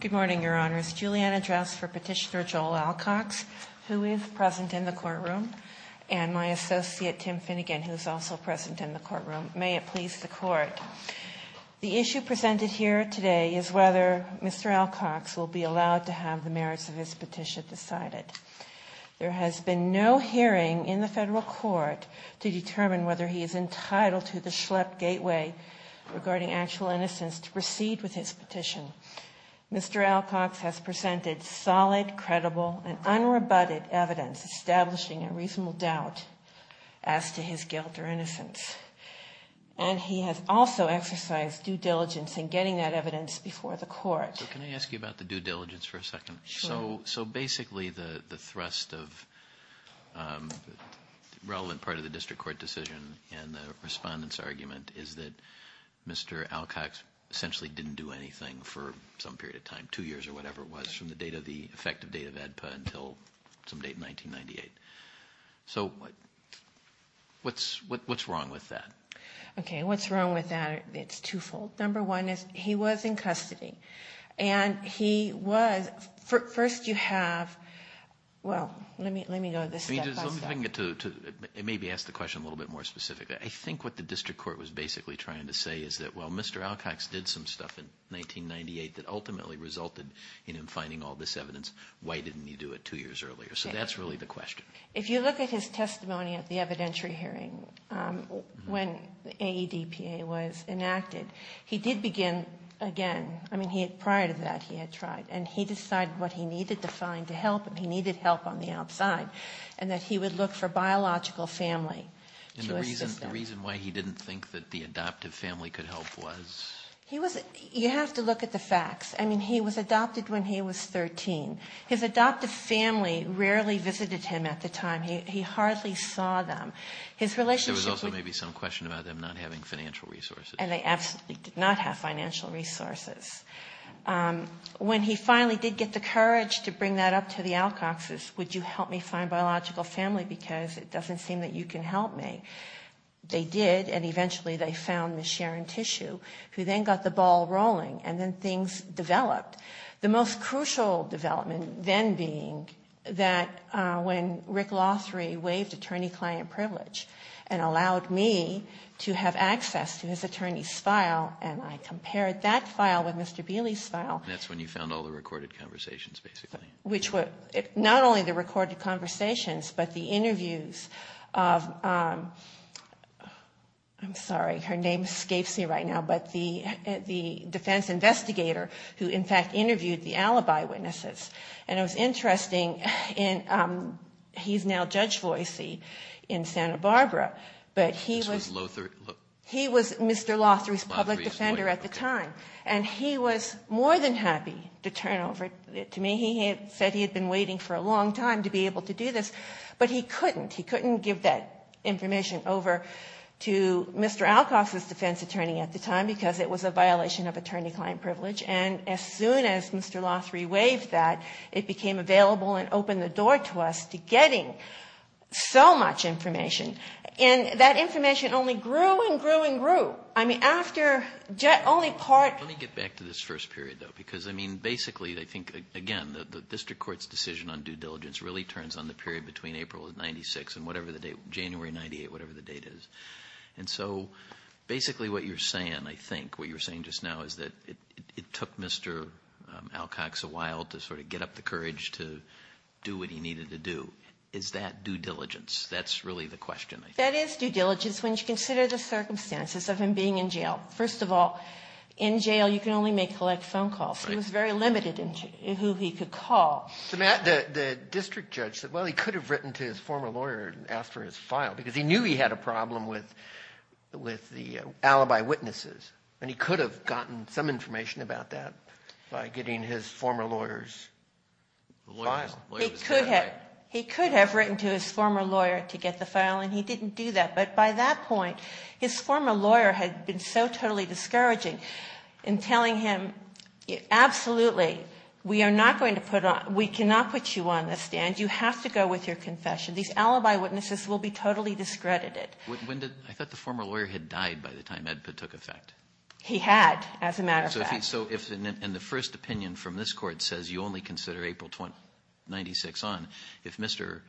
Good morning, Your Honors. Juliana Drouse for Petitioner Joel Alcox, who is present in the courtroom, and my associate Tim Finnegan, who is also present in the courtroom. May it please the Court, the issue presented here today is whether Mr. Alcox will be allowed to have the merits of his petition decided. There has been no hearing in the federal court to determine whether he is entitled to the innocence to proceed with his petition. Mr. Alcox has presented solid, credible, and unrebutted evidence establishing a reasonable doubt as to his guilt or innocence. And he has also exercised due diligence in getting that evidence before the court. Can I ask you about the due diligence for a second? So basically the thrust of the relevant part of the district court decision and the respondent's Mr. Alcox essentially didn't do anything for some period of time, two years or whatever it was from the date of the effective date of AEDPA until some date in 1998. So what's wrong with that? Okay, what's wrong with that? It's twofold. Number one is he was in custody. And he was, first you have, well, let me go this step by step. Let me get to, maybe ask the question a little bit more specifically. I think what the district court was basically trying to say is that, well, Mr. Alcox did some stuff in 1998 that ultimately resulted in him finding all this evidence. Why didn't he do it two years earlier? So that's really the question. If you look at his testimony at the evidentiary hearing when AEDPA was enacted, he did begin again. I mean, prior to that he had tried. And he decided what he needed to find to help him. And that he would look for biological family to assist him. And the reason why he didn't think that the adoptive family could help was? He was, you have to look at the facts. I mean, he was adopted when he was 13. His adoptive family rarely visited him at the time. He hardly saw them. His relationship with. There was also maybe some question about them not having financial resources. And they absolutely did not have financial resources. When he finally did get the courage to bring that up to the Alcoxes, would you help me You can help me. They did. And eventually they found Ms. Sharon Tissue, who then got the ball rolling. And then things developed. The most crucial development then being that when Rick Lothry waived attorney-client privilege and allowed me to have access to his attorney's file and I compared that file with Mr. Beeley's file. That's when you found all the recorded conversations, basically. Which were not only the recorded conversations, but the interviews of, I'm sorry, her name escapes me right now, but the defense investigator who in fact interviewed the alibi witnesses. And it was interesting, he's now Judge Voicy in Santa Barbara, but he was Mr. Lothry's public defender at the time. And he was more than happy to turn over. To me, he said he had been waiting for a long time to be able to do this. But he couldn't. He couldn't give that information over to Mr. Alcox's defense attorney at the time because it was a violation of attorney-client privilege. And as soon as Mr. Lothry waived that, it became available and opened the door to us to getting so much information. And that information only grew and grew and grew. I mean, after only part. Let me get back to this first period, though. Because I mean, basically, I think, again, the district court's decision on due diligence really turns on the period between April of 96 and whatever the date, January 98, whatever the date is. And so basically what you're saying, I think, what you're saying just now is that it took Mr. Alcox a while to sort of get up the courage to do what he needed to do. Is that due diligence? That's really the question, I think. That is due diligence when you consider the circumstances of him being in jail. First of all, in jail, you can only make collect phone calls. He was very limited in who he could call. So, Matt, the district judge said, well, he could have written to his former lawyer and asked for his file because he knew he had a problem with the alibi witnesses. And he could have gotten some information about that by getting his former lawyer's file. He could have. He could have written to his former lawyer to get the file, and he didn't do that. But by that point, his former lawyer had been so totally discouraging in telling him, absolutely, we are not going to put on, we cannot put you on the stand. You have to go with your confession. These alibi witnesses will be totally discredited. When did, I thought the former lawyer had died by the time Ed Pitt took effect. He had, as a matter of fact. So if, and the first opinion from this court says you only consider April 96 on, if Mr.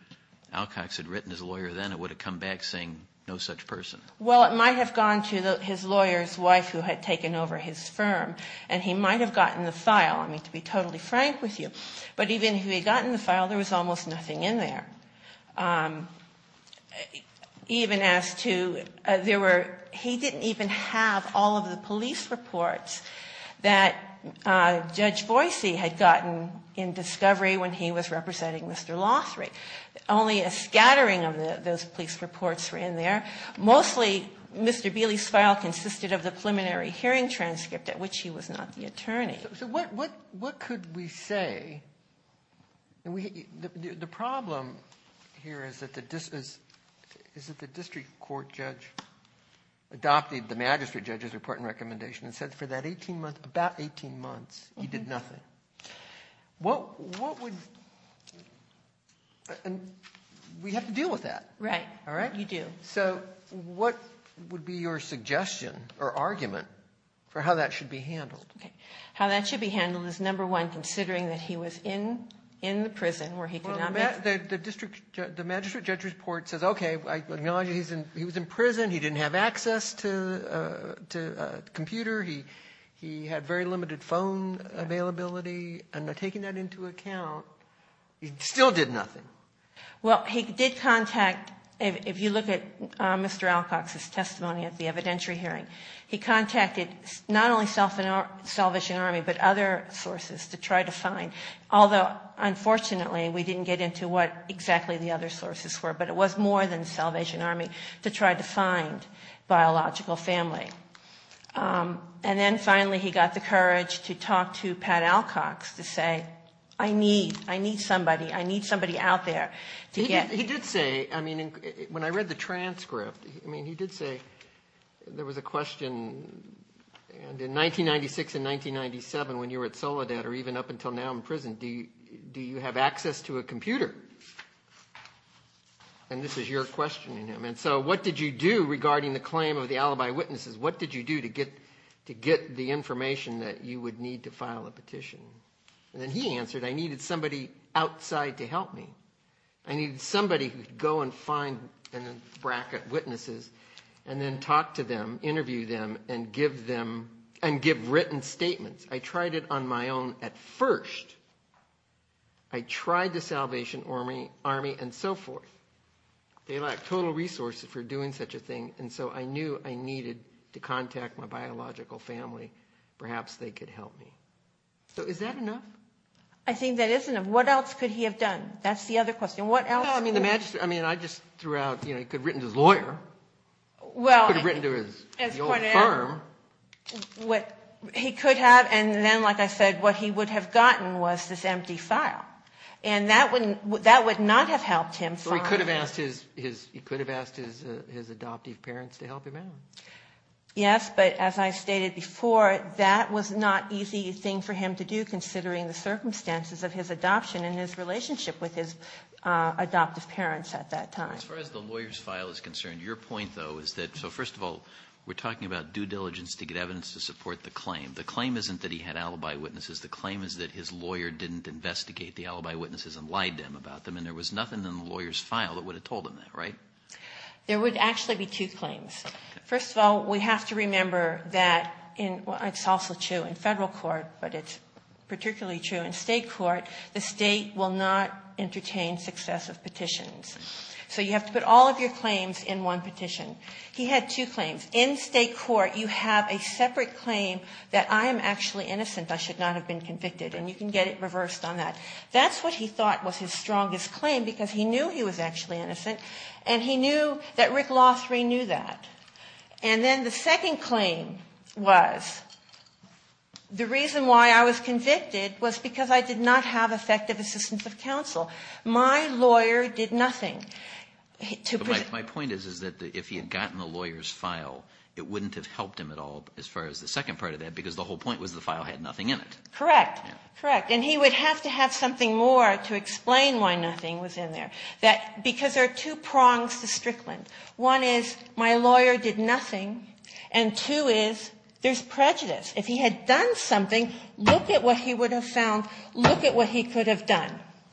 Alcox had written his lawyer then, it would have come back saying no such person. Well, it might have gone to his lawyer's wife who had taken over his firm. And he might have gotten the file, I mean, to be totally frank with you. But even if he had gotten the file, there was almost nothing in there. Even as to, there were, he didn't even have all of the police reports that Judge Boise had gotten in discovery when he was representing Mr. Lothry. Only a scattering of those police reports were in there. Mostly, Mr. Bealey's file consisted of the preliminary hearing transcript, at which he was not the attorney. So what could we say, and we, the problem here is that the district court judge adopted the magistrate judge's report and recommendation and said for that 18 months, about 18 months, he did nothing. What would, and we have to deal with that. Right. All right? You do. So, what would be your suggestion or argument for how that should be handled? How that should be handled is number one, considering that he was in the prison where he could not- The magistrate judge's report says, okay, I acknowledge he was in prison, he didn't have access to a computer, he had very limited phone availability, and taking that into account, he still did nothing. Well, he did contact, if you look at Mr. Alcox's testimony at the evidentiary hearing, he contacted not only Salvation Army, but other sources to try to find. Although, unfortunately, we didn't get into what exactly the other sources were, but it was more than Salvation Army to try to find biological family. And then finally, he got the courage to talk to Pat Alcox to say, I need, I need somebody, I need somebody out there to get- He did say, I mean, when I read the transcript, I mean, he did say, there was a question. And in 1996 and 1997, when you were at Soledad, or even up until now in prison, do you have access to a computer? And this is your question, and so what did you do regarding the claim of the alibi witnesses? What did you do to get the information that you would need to file a petition? And then he answered, I needed somebody outside to help me. I needed somebody who'd go and find, in a bracket, witnesses, and then talk to them, interview them, and give them, and give written statements. I tried it on my own at first, I tried the Salvation Army, and so forth. They lacked total resources for doing such a thing, and so I knew I needed to contact my biological family. Perhaps they could help me. So is that enough? I think that is enough. What else could he have done? That's the other question. What else- No, I mean, the magistrate, I mean, I just threw out, you know, he could have written to his lawyer. Well- He could have written to his- As part of- The old firm. What he could have, and then, like I said, what he would have gotten was this empty file. And that wouldn't, that would not have helped him find- So he could have asked his, he could have asked his adoptive parents to help him out. Yes, but as I stated before, that was not easy thing for him to do, considering the circumstances of his adoption and his relationship with his adoptive parents at that time. As far as the lawyer's file is concerned, your point, though, is that, so first of all, we're talking about due diligence to get evidence to support the claim. The claim isn't that he had alibi witnesses. The claim is that his lawyer didn't investigate the alibi witnesses and lied to him about them. And there was nothing in the lawyer's file that would have told him that, right? There would actually be two claims. First of all, we have to remember that, it's also true in federal court, but it's particularly true in state court. The state will not entertain successive petitions. So you have to put all of your claims in one petition. He had two claims. In state court, you have a separate claim that I am actually innocent. I should not have been convicted. And you can get it reversed on that. That's what he thought was his strongest claim, because he knew he was actually innocent. And he knew that Rick Lothry knew that. And then the second claim was, the reason why I was convicted was because I did not have effective assistance of counsel. My lawyer did nothing to- My point is, is that if he had gotten the lawyer's file, it wouldn't have helped him at all, as far as the second part of that, because the whole point was the file had nothing in it. Correct. Correct. And he would have to have something more to explain why nothing was in there. That, because there are two prongs to Strickland. One is, my lawyer did nothing, and two is, there's prejudice. If he had done something, look at what he would have found, look at what he could have done.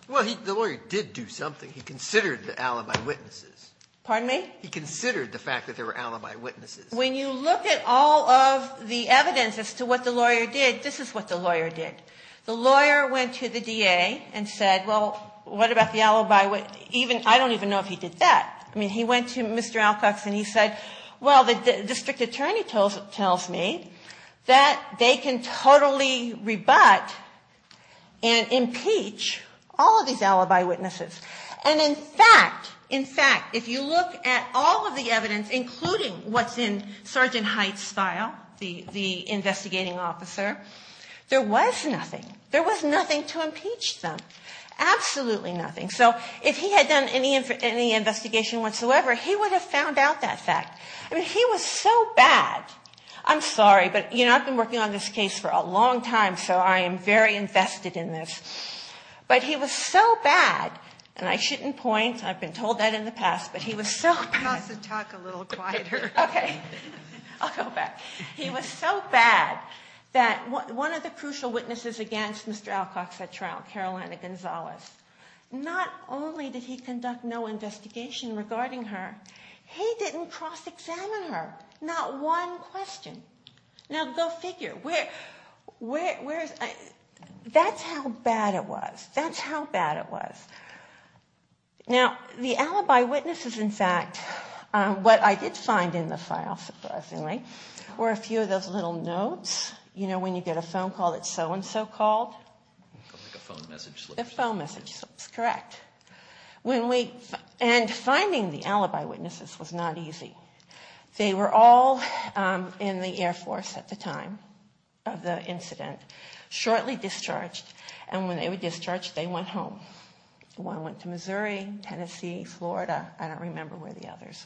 Well, the lawyer did do something. He considered the alibi witnesses. Pardon me? He considered the fact that there were alibi witnesses. When you look at all of the evidence as to what the lawyer did, this is what the lawyer did. The lawyer went to the DA and said, well, what about the alibi? Even, I don't even know if he did that. I mean, he went to Mr. Alcox and he said, well, the district attorney tells me that they can totally rebut and impeach all of these alibi witnesses. And in fact, in fact, if you look at all of the evidence, including what's in Sergeant Hite's file, the investigating officer, there was nothing, there was nothing to impeach them, absolutely nothing. So, if he had done any investigation whatsoever, he would have found out that fact. I mean, he was so bad, I'm sorry, but, you know, I've been working on this case for a long time, so I am very invested in this, but he was so bad, and I shouldn't point, I've been told that in the past, but he was so bad. You have to talk a little quieter. Okay, I'll go back. He was so bad that one of the crucial witnesses against Mr. Alcox at trial, Carolina Gonzalez, not only did he conduct no investigation regarding her, he didn't cross-examine her. Not one question. Now, go figure, where is, that's how bad it was. That's how bad it was. Now, the alibi witnesses, in fact, what I did find in the file, surprisingly, were a few of those little notes, you know, when you get a phone call that so-and-so called. Like a phone message slip. A phone message slip, correct. When we, and finding the alibi witnesses was not easy. They were all in the Air Force at the time of the incident, shortly discharged, and when they were discharged, they went home. One went to Missouri, Tennessee, Florida. I don't remember where the others.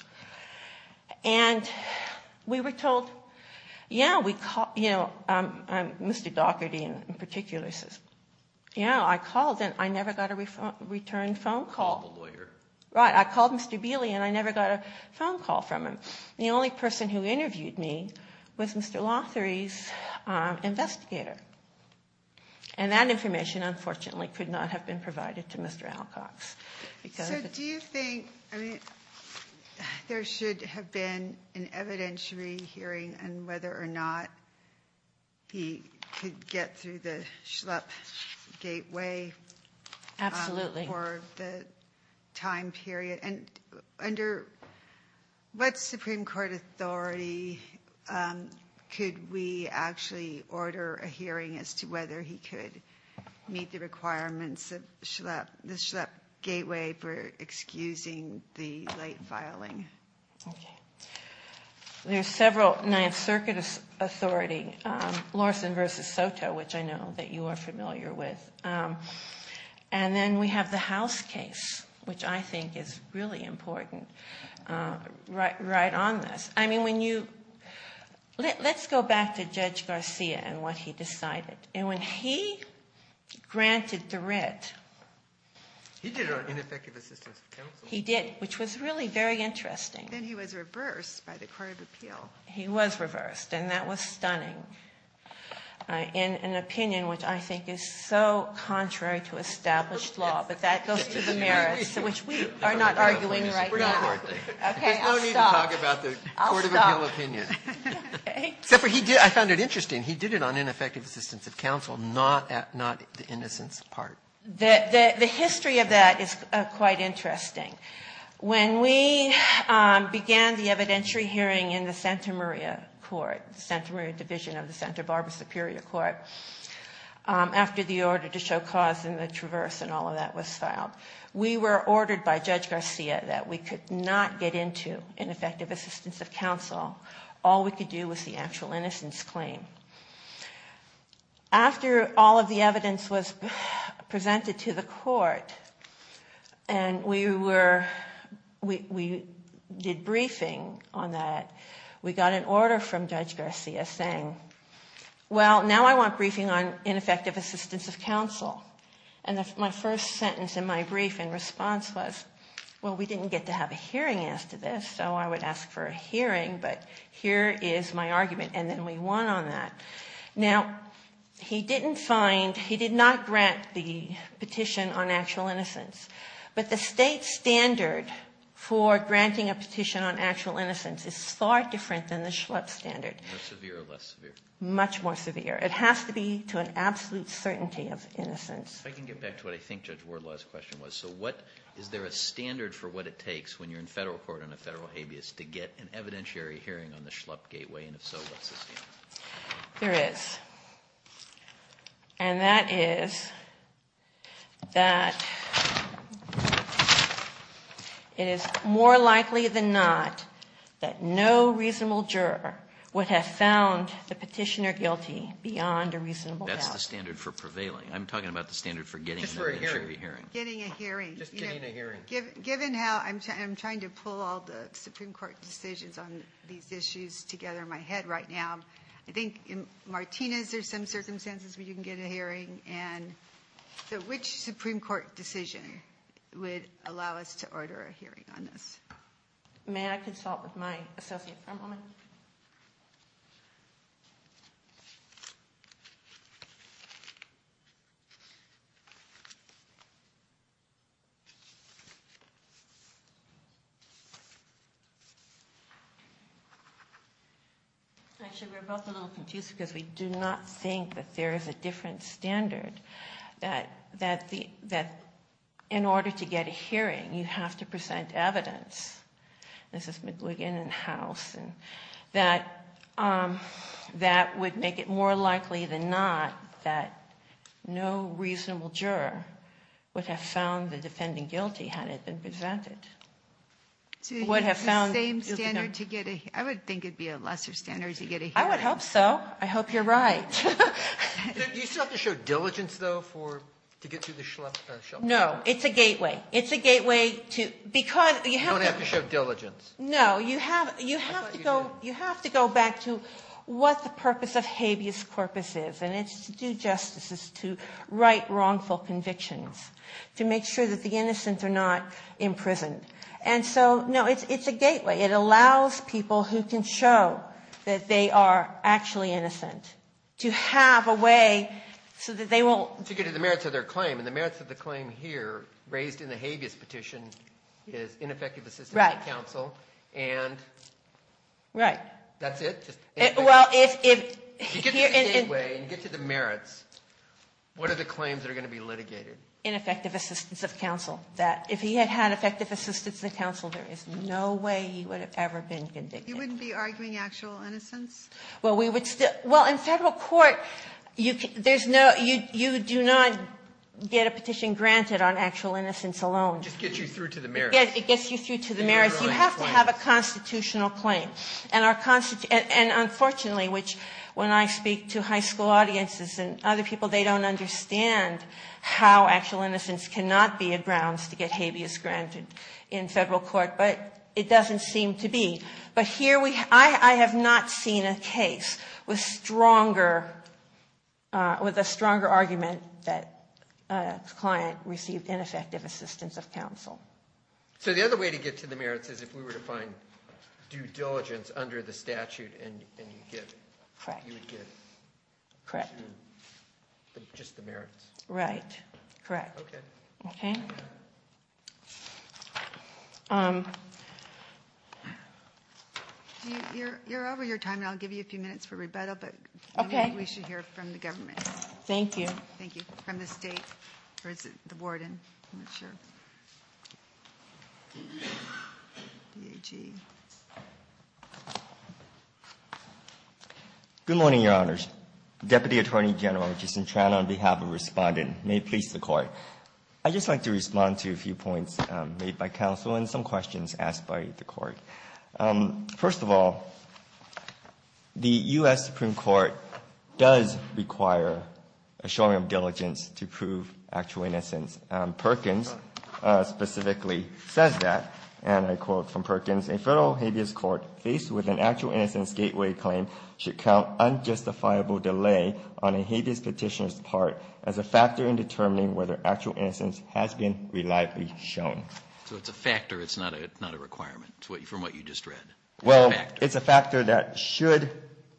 And we were told, yeah, we, you know, Mr. Dougherty in particular says, yeah, I called and I never got a return phone call. Lawyer. Right, I called Mr. Bealey and I never got a phone call from him. The only person who interviewed me was Mr. Lothary's investigator, and that information, unfortunately, could not have been provided to Mr. Alcox. So, do you think, I mean, there should have been an evidentiary hearing on whether or not he could get through the Schlepp gateway for the time period, and under what Supreme Court authority could we actually order a hearing as to whether he could meet the requirements of the Schlepp gateway for excusing the late filing? Okay. There's several, Ninth Circuit authority, Lawson versus Soto, which I know that you are familiar with, and then we have the House case, which I think is really important, right on this. I mean, when you, let's go back to Judge Garcia and what he decided. And when he granted the writ. He did it on ineffective assistance of counsel. He did, which was really very interesting. Then he was reversed by the Court of Appeal. He was reversed, and that was stunning, in an opinion which I think is so contrary to established law, but that goes to the merits, which we are not arguing right now. Okay, I'll stop. There's no need to talk about the Court of Appeal opinion. Except for he did, I found it interesting. He did it on ineffective assistance of counsel, not the innocence part. The history of that is quite interesting. When we began the evidentiary hearing in the Santa Maria Court, Santa Maria Division of the Santa Barbara Superior Court, after the order to show cause in the Traverse and all of that was filed, we were ordered by Judge Garcia that we could not get into ineffective assistance of counsel. All we could do was the actual innocence claim. After all of the evidence was presented to the court, and we were, we did briefing on that, we got an order from Judge Garcia saying, well, now I want briefing on ineffective assistance of counsel. And my first sentence in my brief in response was, well, we didn't get to have a hearing after this, so I would ask for a hearing, but here is my argument, and then we won on that. Now, he didn't find, he did not grant the petition on actual innocence, but the state standard for granting a petition on actual innocence is far different than the Schlupp standard. More severe or less severe? Much more severe. It has to be to an absolute certainty of innocence. If I can get back to what I think Judge Wardlaw's question was, so what, is there a standard for what it takes when you're in federal court on a federal habeas to get an evidentiary hearing on the Schlupp gateway, and if so, what's the standard? There is, and that is that it is more likely than not that no reasonable juror would have found the petitioner guilty beyond a reasonable doubt. That's the standard for prevailing. I'm talking about the standard for getting an evidentiary hearing. Getting a hearing. Just getting a hearing. Given how, I'm trying to pull all the Supreme Court decisions on these issues together in my head right now, I think in Martinez, there's some circumstances where you can get a hearing, and so which Supreme Court decision would allow us to order a hearing on this? May I consult with my associate for a moment? Actually, we're both a little confused because we do not think that there is a different standard that in order to get a hearing, you have to present evidence. This is McGuigan and House, and that would make it more likely than not that no reasonable juror would have found the defendant guilty had it been presented. Would have found. It's the same standard to get a, I would think it would be a lesser standard to get a hearing. I would hope so. I hope you're right. Do you still have to show diligence though for, to get to the shelf? No, it's a gateway. It's a gateway to, because you have to. You don't have to show diligence. No, you have to go back to what the purpose of habeas corpus is, and it's to do justice. It's to write wrongful convictions. To make sure that the innocents are not imprisoned. And so, no, it's a gateway. It allows people who can show that they are actually innocent to have a way so that they won't. To get to the merits of their claim. And the merits of the claim here, raised in the habeas petition, is ineffective assistance of counsel and. Right. That's it? Well, if. You get to the gateway, you get to the merits, what are the claims that are going to be litigated? Ineffective assistance of counsel. That if he had had effective assistance of counsel, there is no way he would have ever been convicted. You wouldn't be arguing actual innocence? Well, we would still. Well, in federal court, you do not get a petition granted on actual innocence alone. Just gets you through to the merits. Yes, it gets you through to the merits. You have to have a constitutional claim. And unfortunately, which when I speak to high school audiences and other people, they don't understand how actual innocence cannot be a grounds to get habeas granted in federal court. But it doesn't seem to be. But here, I have not seen a case with a stronger argument that a client received ineffective assistance of counsel. So the other way to get to the merits is if we were to find due diligence under the statute and you get. Correct. Correct. Just the merits. Right, correct. Okay. Okay. You're over your time, and I'll give you a few minutes for rebuttal, but maybe we should hear from the government. Thank you. Thank you. From the state, or is it the warden? I'm not sure. DHE. Good morning, your honors. Deputy Attorney General Jason Tran on behalf of respondent. May it please the court. I'd just like to respond to a few points made by counsel and some questions asked by the court. First of all, the US Supreme Court does require a showing of diligence to prove actual innocence. Perkins specifically says that, and I quote from Perkins, a federal habeas court faced with an actual innocence gateway claim should count unjustifiable delay on a habeas petitioner's part as a factor in determining whether actual innocence has been reliably shown. So it's a factor, it's not a requirement, from what you just read. Well, it's a factor that should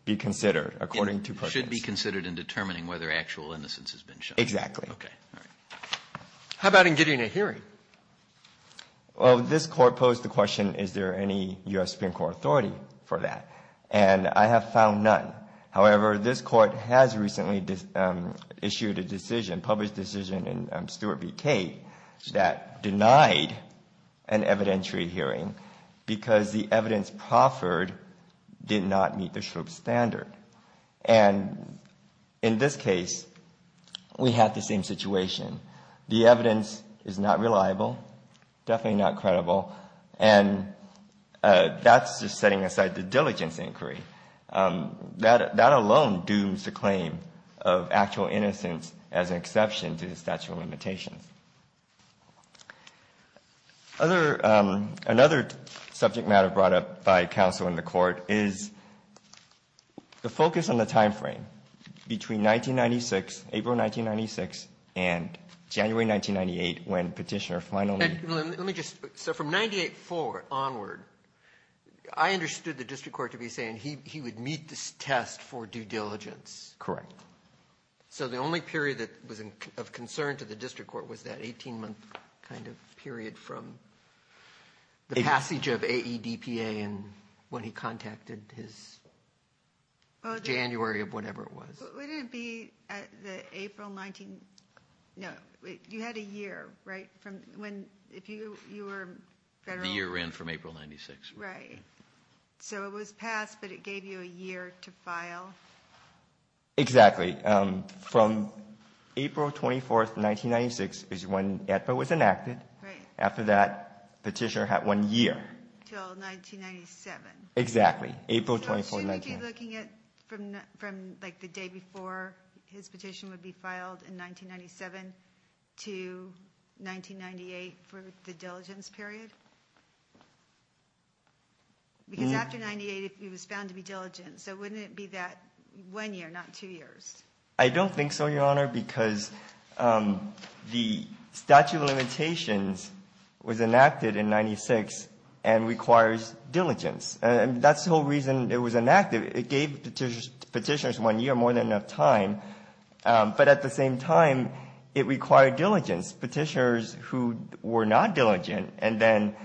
be considered, according to Perkins. Should be considered in determining whether actual innocence has been shown. Exactly. Okay. How about in getting a hearing? Well, this court posed the question, is there any US Supreme Court authority for that? And I have found none. However, this court has recently issued a decision, published decision in Stewart v. Kate, that denied an evidentiary hearing because the evidence proffered did not meet the SHRP standard. And in this case, we have the same situation. The evidence is not reliable, definitely not credible, and that's just setting aside the diligence inquiry. That alone dooms the claim of actual innocence as an exception to the statute of limitations. Another subject matter brought up by counsel in the court is the focus on the time frame between 1996, April 1996, and January 1998, when petitioner finally- He would meet this test for due diligence. Correct. So the only period that was of concern to the district court was that 18 month kind of period from the passage of AEDPA and when he contacted his January of whatever it was. Wouldn't it be the April 19, no, you had a year, right? From when, if you were federal- The year ran from April 96. Right. So it was passed, but it gave you a year to file. Exactly. From April 24th, 1996 is when AEDPA was enacted. Right. After that, petitioner had one year. Till 1997. Exactly. April 24th, 1996. So shouldn't we be looking at from the day before his petition would be filed in 1997 to 1998 for the diligence period? Because after 98, he was found to be diligent. So wouldn't it be that one year, not two years? I don't think so, Your Honor, because the statute of limitations was enacted in 96 and requires diligence. And that's the whole reason it was enacted. It gave petitioners one year, more than enough time. But at the same time, it required diligence. Petitioners who were not diligent and then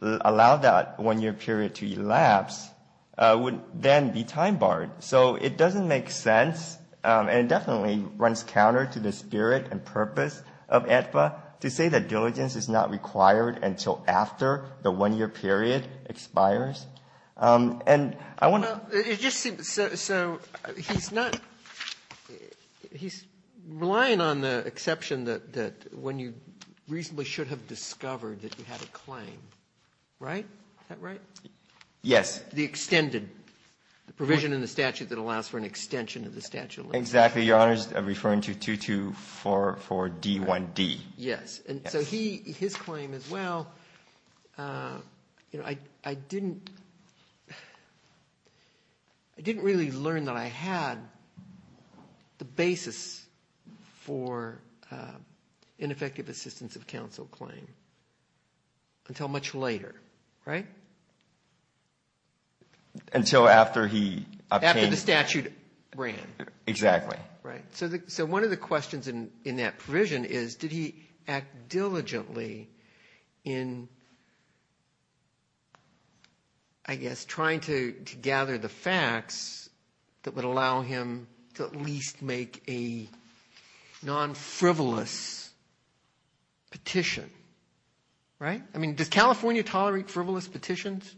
allowed that one year period to elapse would then be time barred. So it doesn't make sense, and it definitely runs counter to the spirit and purpose of AEDPA, to say that diligence is not required until after the one year period expires. And I want to- So he's not, he's relying on the exception that when you reasonably should have discovered that you had a claim, right? Is that right? Yes. The extended, the provision in the statute that allows for an extension of the statute of limitations. Exactly, Your Honor, I'm referring to 2244D1D. Yes, and so his claim as well, I didn't really learn that I had the basis for ineffective assistance of counsel claim until much later, right? Until after he obtained- After the statute ran. Exactly. Right, so one of the questions in that provision is, did he act diligently in, I guess, trying to gather the facts that would allow him to at least make a non-frivolous petition, right? I mean, does California tolerate frivolous petitions?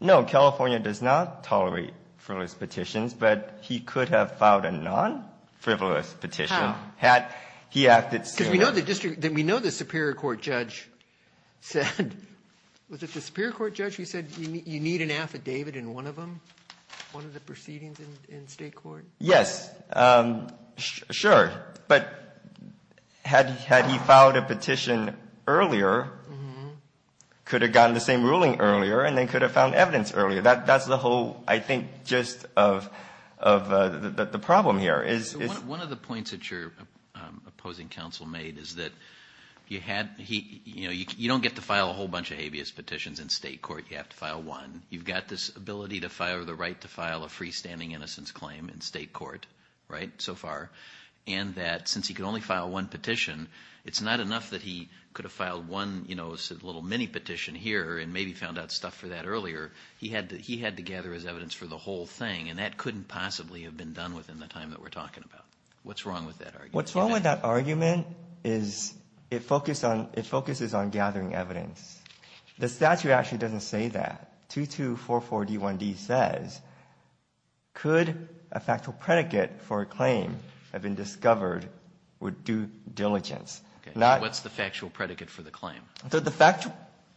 No, California does not tolerate frivolous petitions, but he could have filed a non-frivolous petition. How? Had he acted- Because we know the district, we know the Superior Court judge said, was it the Superior Court judge who said you need an affidavit in one of them, one of the proceedings in state court? Yes, sure, but had he filed a petition earlier, could have gotten the same ruling earlier, and then could have found evidence earlier. That's the whole, I think, gist of the problem here is- One of the points that your opposing counsel made is that you don't get to file a whole bunch of habeas petitions in state court, you have to file one. You've got this ability to file, the right to file a freestanding innocence claim in state court, right, so far. And that since he could only file one petition, it's not enough that he could have filed one little mini-petition here and maybe found out stuff for that earlier. He had to gather his evidence for the whole thing, and that couldn't possibly have been done within the time that we're talking about. What's wrong with that argument? What's wrong with that argument is it focuses on gathering evidence. The statute actually doesn't say that. 2244D1D says, could a factual predicate for a claim have been discovered with due diligence? Not- What's the factual predicate for the claim?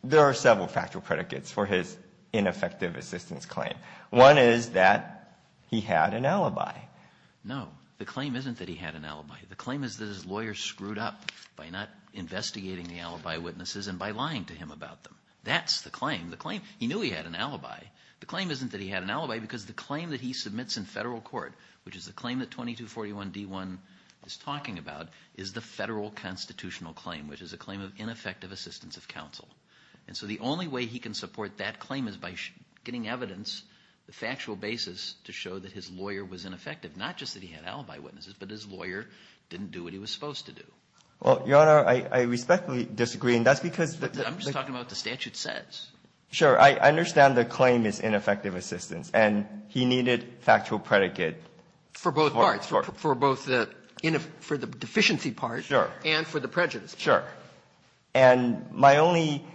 There are several factual predicates for his ineffective assistance claim. One is that he had an alibi. The claim is that his lawyer screwed up by not investigating the alibi witnesses and by lying to him about them. That's the claim. The claim, he knew he had an alibi. The claim isn't that he had an alibi because the claim that he submits in federal court, which is the claim that 2241D1 is talking about, is the federal constitutional claim, which is a claim of ineffective assistance of counsel. And so the only way he can support that claim is by getting evidence, the factual basis to show that his lawyer was ineffective, not just that he had alibi witnesses, but his lawyer didn't do what he was supposed to do. Well, Your Honor, I respectfully disagree. And that's because- I'm just talking about what the statute says. Sure. I understand the claim is ineffective assistance. And he needed factual predicate- For both parts. For both the deficiency part and for the prejudice part. Sure. And my only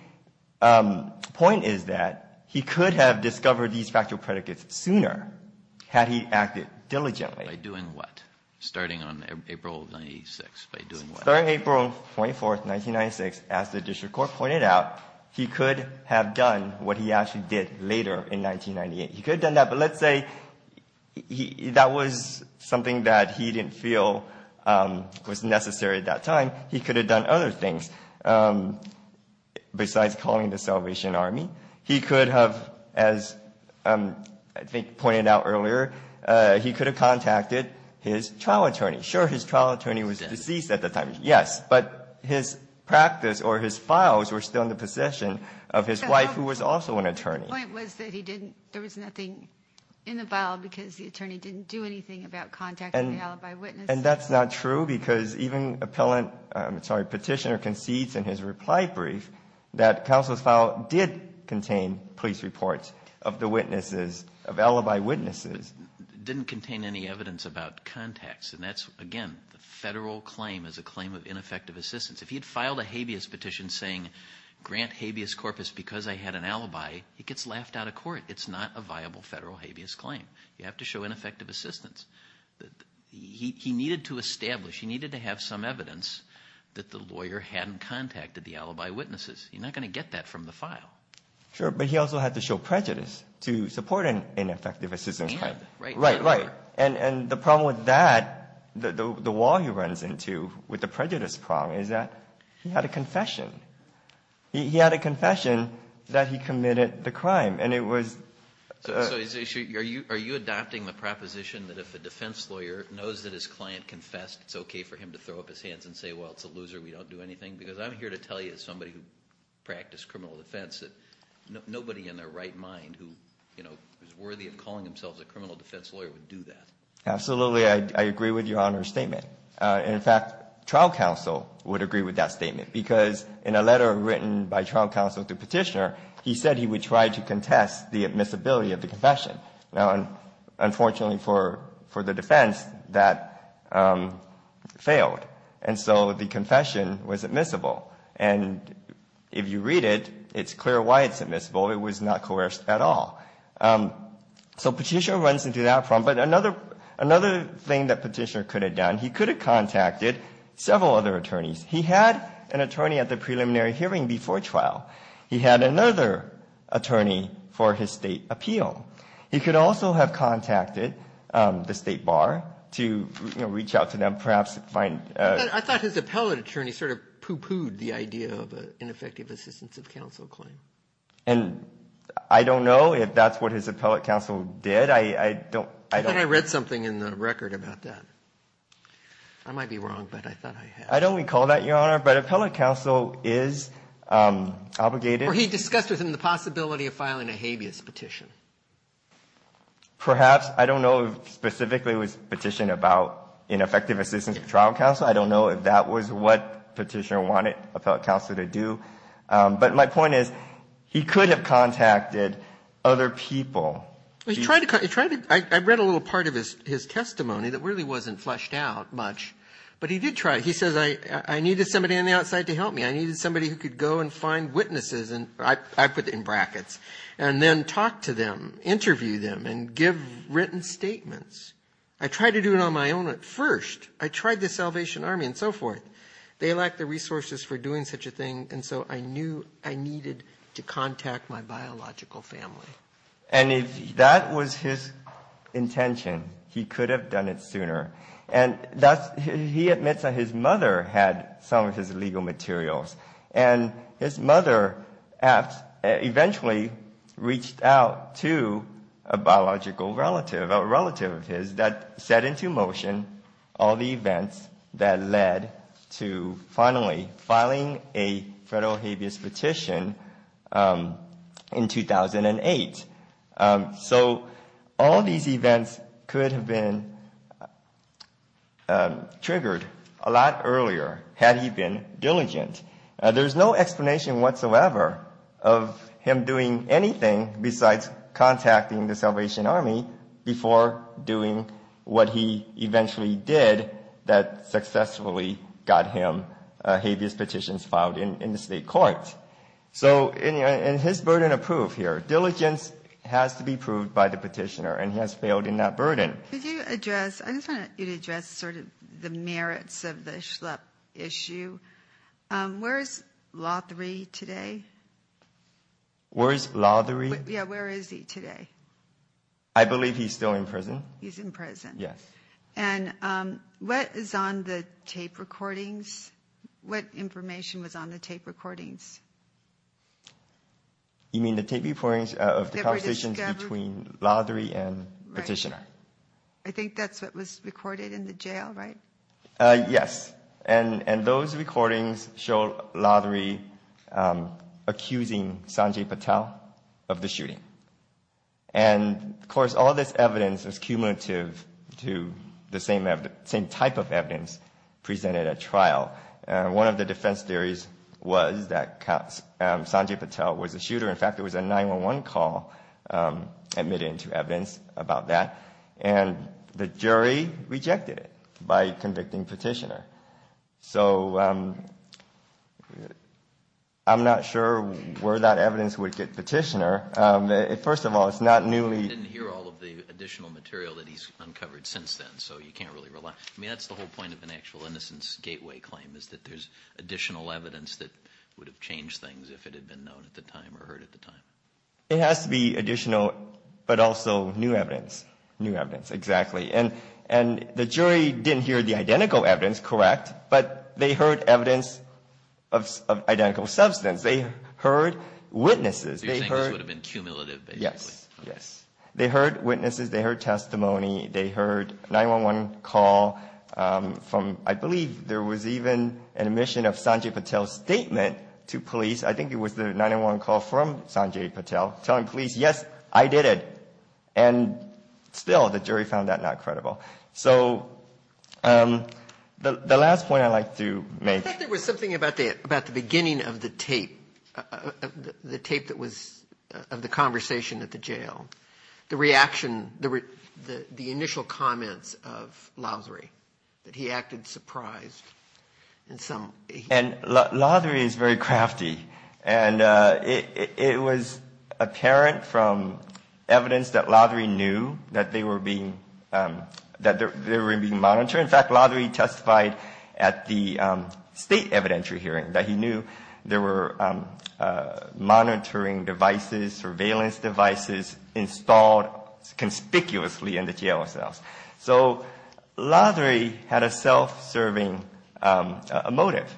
point is that he could have discovered these factual predicates sooner had he acted diligently. By doing what? Starting on April of 1996, by doing what? Starting April 24th, 1996, as the district court pointed out, he could have done what he actually did later in 1998. He could have done that, but let's say that was something that he didn't feel was necessary at that time. He could have done other things besides calling the Salvation Army. He could have, as I think pointed out earlier, he could have contacted his trial attorney. Sure, his trial attorney was deceased at the time. Yes, but his practice or his files were still in the possession of his wife who was also an attorney. The point was that he didn't, there was nothing in the file because the attorney didn't do anything about contacting the alibi witness. And that's not true because even appellant, I'm sorry, petitioner concedes in his reply brief that counsel's file did contain police reports of the witnesses, of alibi witnesses. Didn't contain any evidence about contacts. And that's, again, the federal claim is a claim of ineffective assistance. If he had filed a habeas petition saying, grant habeas corpus because I had an alibi, he gets laughed out of court. It's not a viable federal habeas claim. You have to show ineffective assistance. He needed to establish, he needed to have some evidence that the lawyer hadn't contacted the alibi witnesses. You're not going to get that from the file. Sure, but he also had to show prejudice to support an ineffective assistance claim. Right, right. And the problem with that, the wall he runs into with the prejudice problem is that he had a confession. He had a confession that he committed the crime and it was. So, are you adopting the proposition that if a defense lawyer knows that his client confessed, it's okay for him to throw up his hands and say, well, it's a loser, we don't do anything? Because I'm here to tell you, as somebody who practiced criminal defense, that nobody in their right mind who is worthy of calling themselves a criminal defense lawyer would do that. Absolutely, I agree with your Honor's statement. In fact, trial counsel would agree with that statement because in a letter written by trial counsel to petitioner, he said he would try to contest the admissibility of the confession. Now, unfortunately for the defense, that failed. And so the confession was admissible. And if you read it, it's clear why it's admissible. It was not coerced at all. So petitioner runs into that problem. But another thing that petitioner could have done, he could have contacted several other attorneys. He had an attorney at the preliminary hearing before trial. He had another attorney for his state appeal. He could also have contacted the state bar to reach out to them, perhaps find- I thought his appellate attorney sort of poo-pooed the idea of an ineffective assistance of counsel claim. And I don't know if that's what his appellate counsel did. I don't- I think I read something in the record about that. I might be wrong, but I thought I had. I don't recall that, Your Honor, but appellate counsel is obligated- Or he discussed with him the possibility of filing a habeas petition. Perhaps. I don't know if specifically it was a petition about ineffective assistance of trial counsel. I don't know if that was what petitioner wanted appellate counsel to do. But my point is, he could have contacted other people. He tried to- I read a little part of his testimony that really wasn't fleshed out much. But he did try. He says, I needed somebody on the outside to help me. I needed somebody who could go and find witnesses, and I put it in brackets, and then talk to them, interview them, and give written statements. I tried to do it on my own at first. I tried the Salvation Army and so forth. They lacked the resources for doing such a thing. And so I knew I needed to contact my biological family. And if that was his intention, he could have done it sooner. And he admits that his mother had some of his legal materials. And his mother eventually reached out to a biological relative, a relative of his, that set into motion all the events that led to finally filing a federal habeas petition in 2008. So all these events could have been triggered a lot earlier had he been diligent. There's no explanation whatsoever of him doing anything besides contacting the Salvation Army before doing what he eventually did that successfully got him habeas petitions filed in the state courts. So, and his burden of proof here. Diligence has to be proved by the petitioner, and he has failed in that burden. Could you address, I just want you to address sort of the merits of the Schlepp issue. Where is Lothary today? Where is Lothary? Yeah, where is he today? I believe he's still in prison. He's in prison. Yes. And what is on the tape recordings? What information was on the tape recordings? You mean the tape recordings of the conversations between Lothary and the petitioner? I think that's what was recorded in the jail, right? Yes. And those recordings show Lothary accusing Sanjay Patel of the shooting. And of course, all this evidence is cumulative to the same type of evidence presented at trial. One of the defense theories was that Sanjay Patel was a shooter. In fact, there was a 911 call admitted to evidence about that. And the jury rejected it by convicting petitioner. So I'm not sure where that evidence would get petitioner. First of all, it's not newly. I didn't hear all of the additional material that he's uncovered since then. So you can't really rely. I mean, that's the whole point of an actual innocence gateway claim is that there's additional evidence that would have changed things if it had been known at the time or heard at the time. It has to be additional, but also new evidence. New evidence. Exactly. And the jury didn't hear the identical evidence, correct? But they heard evidence of identical substance. They heard witnesses. You're saying this would have been cumulative, basically? Yes. Yes. They heard witnesses. They heard testimony. They heard 911 call from, I believe there was even an admission of Sanjay Patel's statement to police. I think it was the 911 call from Sanjay Patel telling police, yes, I did it. And still the jury found that not credible. So the last point I'd like to make. I think there was something about the beginning of the tape that was of the conversation at the jail. The reaction, the initial comments of Lothery that he acted surprised in some. And Lothery is very crafty. And it was apparent from evidence that Lothery knew that they were being monitored. In fact, Lothery testified at the state evidentiary hearing that he knew there were monitoring devices, surveillance devices installed conspicuously in the jail cells. So Lothery had a self-serving motive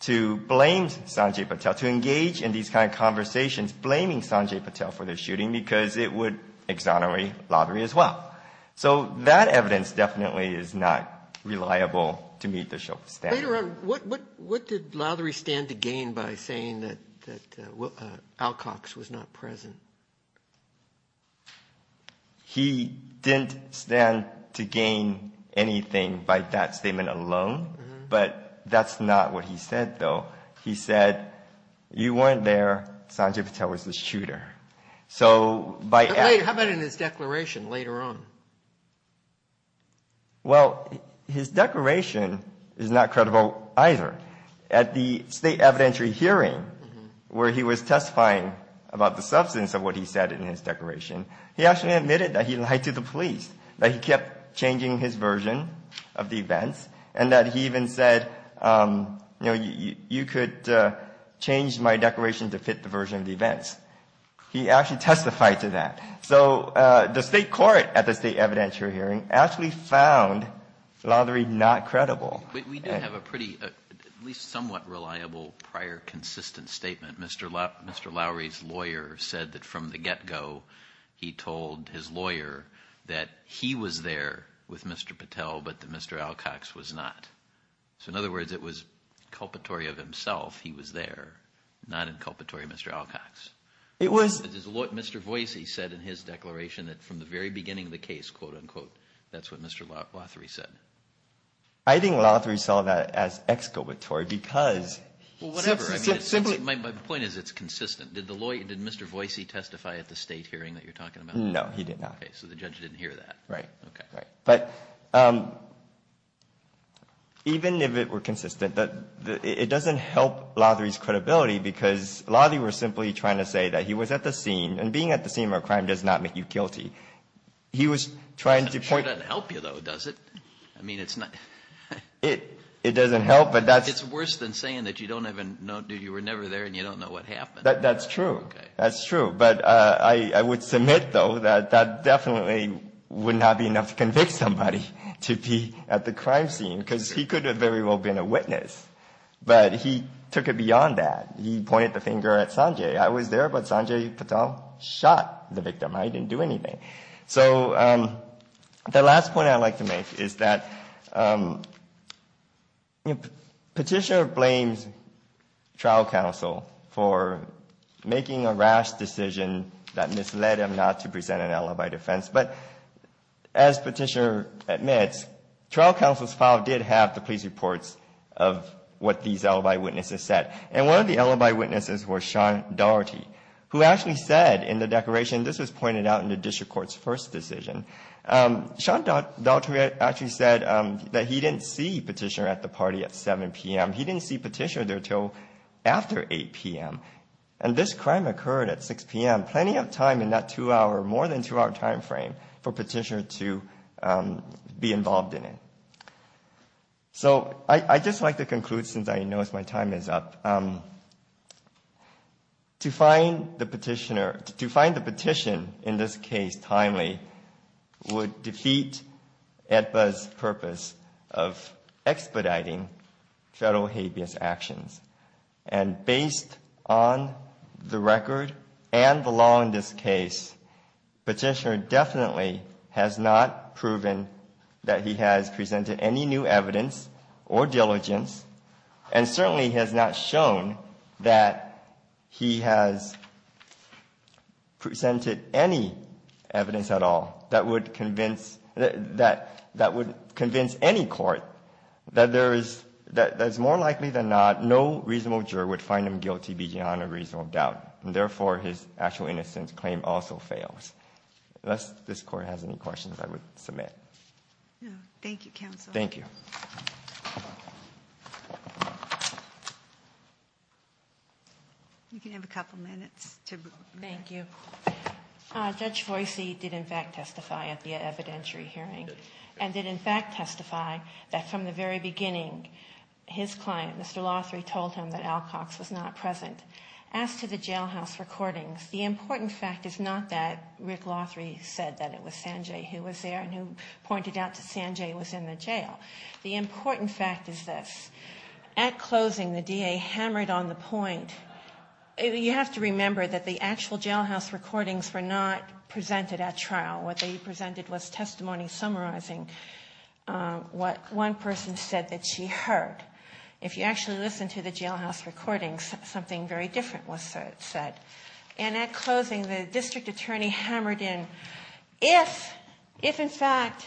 to blame Sanjay Patel, to engage in these kind of conversations blaming Sanjay Patel for the shooting because it would exonerate Lothery as well. So that evidence definitely is not reliable to me to show. Later on, what did Lothery stand to gain by saying that Alcox was not present? He didn't stand to gain anything by that statement alone. But that's not what he said, though. He said, you weren't there. Sanjay Patel was the shooter. So how about in his declaration later on? Well, his declaration is not credible either. At the state evidentiary hearing where he was testifying about the substance of what he said in his declaration, he actually admitted that he lied to the police, that he kept changing his version of the events, and that he even said, you know, you could change my declaration to fit the version of the events. He actually testified to that. So the state court at the state evidentiary hearing actually found Lothery not credible. But we do have a pretty, at least somewhat reliable, prior consistent statement. Mr. Lowry's lawyer said that from the get-go, he told his lawyer that he was there with Mr. Patel, but that Mr. Alcox was not. So in other words, it was a culpatory of himself. He was there, not in culpatory of Mr. Alcox. It's what Mr. Voicy said in his declaration that from the very beginning of the case, quote unquote, that's what Mr. Lothery said. I think Lothery saw that as exculpatory because... Well, whatever. My point is it's consistent. Did the lawyer, did Mr. Voicy testify at the state hearing that you're talking about? No, he did not. Okay, so the judge didn't hear that. Right, right. But even if it were consistent, it doesn't help Lothery's credibility because Lothery was simply trying to say that he was at the scene and being at the scene of a crime does not make you guilty. He was trying to point... I'm sure it doesn't help you though, does it? I mean, it's not... It doesn't help, but that's... It's worse than saying that you don't even know, that you were never there and you don't know what happened. That's true. That's true. But I would submit though that that definitely would not be enough to convict somebody to be at the crime scene because he could have very well been a witness. But he took it beyond that. He pointed the finger at Sanjay. I was there, but Sanjay Patel shot the victim. I didn't do anything. So the last point I'd like to make is that Petitioner blames trial counsel for making a rash decision that misled him not to present an alibi defense. But as Petitioner admits, trial counsel's file did have the police reports of what these alibi witnesses said. And one of the alibi witnesses was Sean Daugherty, who actually said in the declaration, this was pointed out in the District Court's first decision, Sean Daugherty actually said that he didn't see Petitioner at the party at 7 p.m. He didn't see Petitioner there until after 8 p.m. And this crime occurred at 6 p.m. Plenty of time in that two-hour, more than two-hour time frame for Petitioner to be involved in it. So I'd just like to conclude, since I know my time is up. To find the petition in this case timely would defeat AEDPA's purpose of expediting federal habeas actions. And based on the record and the law in this case, Petitioner definitely has not proven that he has presented any new evidence or diligence and certainly has not shown that he has presented any evidence at all that would convince any court that there is more likely than not no reasonable juror would find him guilty beyond a reasonable doubt. And therefore, his actual innocence claim also fails. Unless this Court has any questions, I would submit. Thank you, Counsel. Thank you. You can have a couple minutes to. Thank you. Judge Voicy did in fact testify at the evidentiary hearing and did in fact testify that from the very beginning, his client, Mr. Lothry, told him that Alcox was not present. As to the jailhouse recordings, the important fact is not that Rick Lothry said that it was there and who pointed out that Sanjay was in the jail. The important fact is this. At closing, the DA hammered on the point, you have to remember that the actual jailhouse recordings were not presented at trial. What they presented was testimony summarizing what one person said that she heard. If you actually listen to the jailhouse recordings, something very different was said. And at closing, the district attorney hammered in, if in fact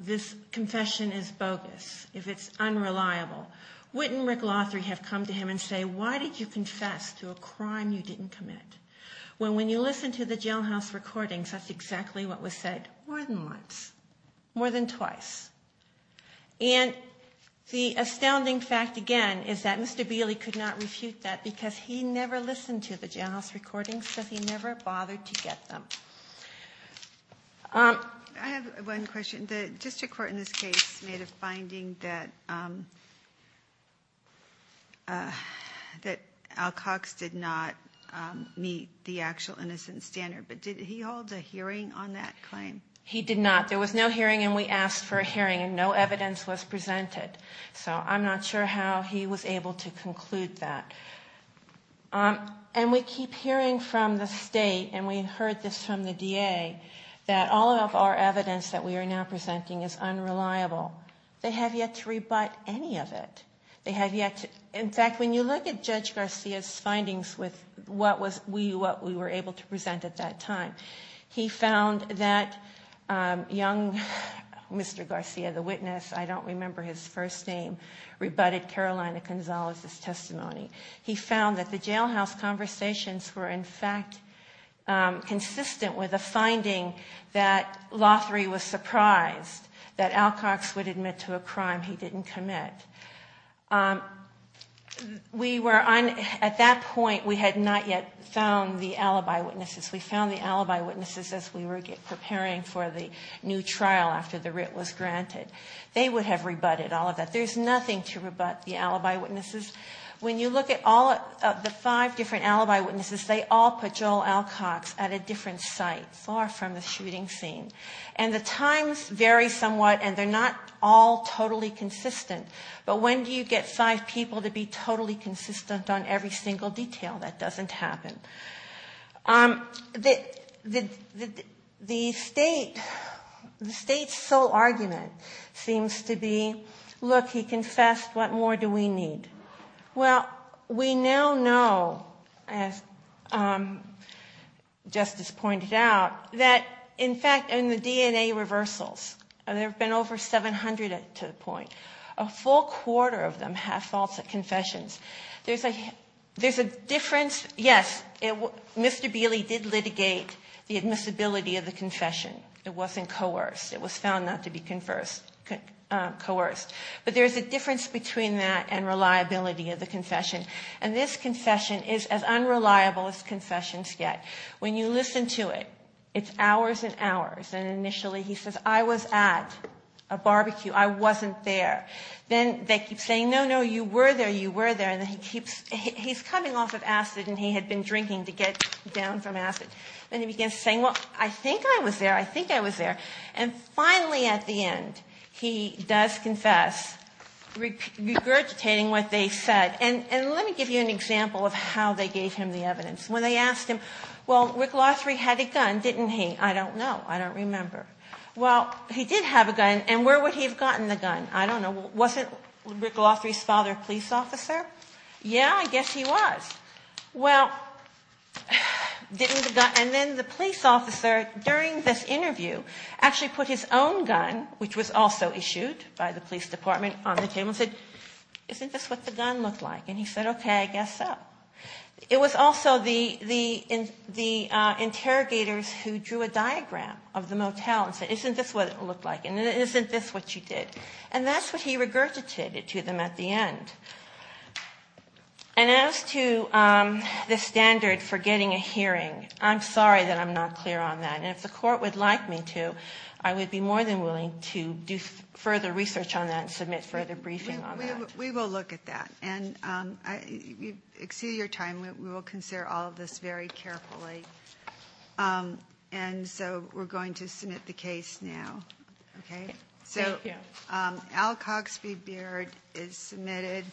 this confession is bogus, if it's unreliable, wouldn't Rick Lothry have come to him and say, why did you confess to a crime you didn't commit? When you listen to the jailhouse recordings, that's exactly what was said more than once, more than twice. And the astounding fact, again, is that Mr. Bailey could not refute that because he never listened to the jailhouse recordings, so he never bothered to get them. I have one question. The district court in this case made a finding that Alcox did not meet the actual innocence standard, but did he hold a hearing on that claim? He did not. There was no hearing, and we asked for a hearing, and no evidence was presented. So I'm not sure how he was able to conclude that. And we keep hearing from the state, and we heard this from the DA, that all of our evidence that we are now presenting is unreliable. They have yet to rebut any of it. They have yet to, in fact, when you look at Judge Garcia's findings with what we were able to present at that time, he found that young Mr. Garcia, the witness, I don't remember his first name, rebutted Carolina Gonzalez's testimony. He found that the jailhouse conversations were, in fact, consistent with a finding that Lothery was surprised that Alcox would admit to a crime he didn't commit. We were on, at that point, we had not yet found the alibi witnesses. We found the alibi witnesses as we were preparing for the new trial after the writ was granted. They would have rebutted all of that. There's nothing to rebut the alibi witnesses. When you look at all of the five different alibi witnesses, they all put Joel Alcox at a different site, far from the shooting scene. And the times vary somewhat, and they're not all totally consistent. But when do you get five people to be totally consistent on every single detail? That doesn't happen. The state's sole argument seems to be, look, he confessed, what more do we need? Well, we now know, as Justice pointed out, that, in fact, in the DNA reversals, there is a full quarter of them have faults at confessions. There's a difference. Yes, Mr. Bailey did litigate the admissibility of the confession. It wasn't coerced. It was found not to be coerced. But there's a difference between that and reliability of the confession. And this confession is as unreliable as confessions get. When you listen to it, it's hours and hours. And initially, he says, I was at a barbecue. I wasn't there. Then they keep saying, no, no, you were there. You were there. And then he keeps, he's coming off of acid, and he had been drinking to get down from acid. Then he begins saying, well, I think I was there. I think I was there. And finally, at the end, he does confess, regurgitating what they said. And let me give you an example of how they gave him the evidence. When they asked him, well, Rick Lothry had a gun, didn't he? I don't know. I don't remember. Well, he did have a gun. And where would he have gotten the gun? I don't know. Wasn't Rick Lothry's father a police officer? Yeah, I guess he was. Well, and then the police officer during this interview actually put his own gun, which was also issued by the police department, on the table and said, isn't this what the gun looked like? And he said, OK, I guess so. It was also the interrogators who drew a diagram of the motel and said, isn't this what it looked like? And isn't this what you did? And that's what he regurgitated to them at the end. And as to the standard for getting a hearing, I'm sorry that I'm not clear on that. And if the court would like me to, I would be more than willing to do further research on that and submit further briefing on that. We will look at that. And you've exceeded your time. We will consider all of this very carefully. And so we're going to submit the case now, OK? So Al Cogsby Beard is submitted.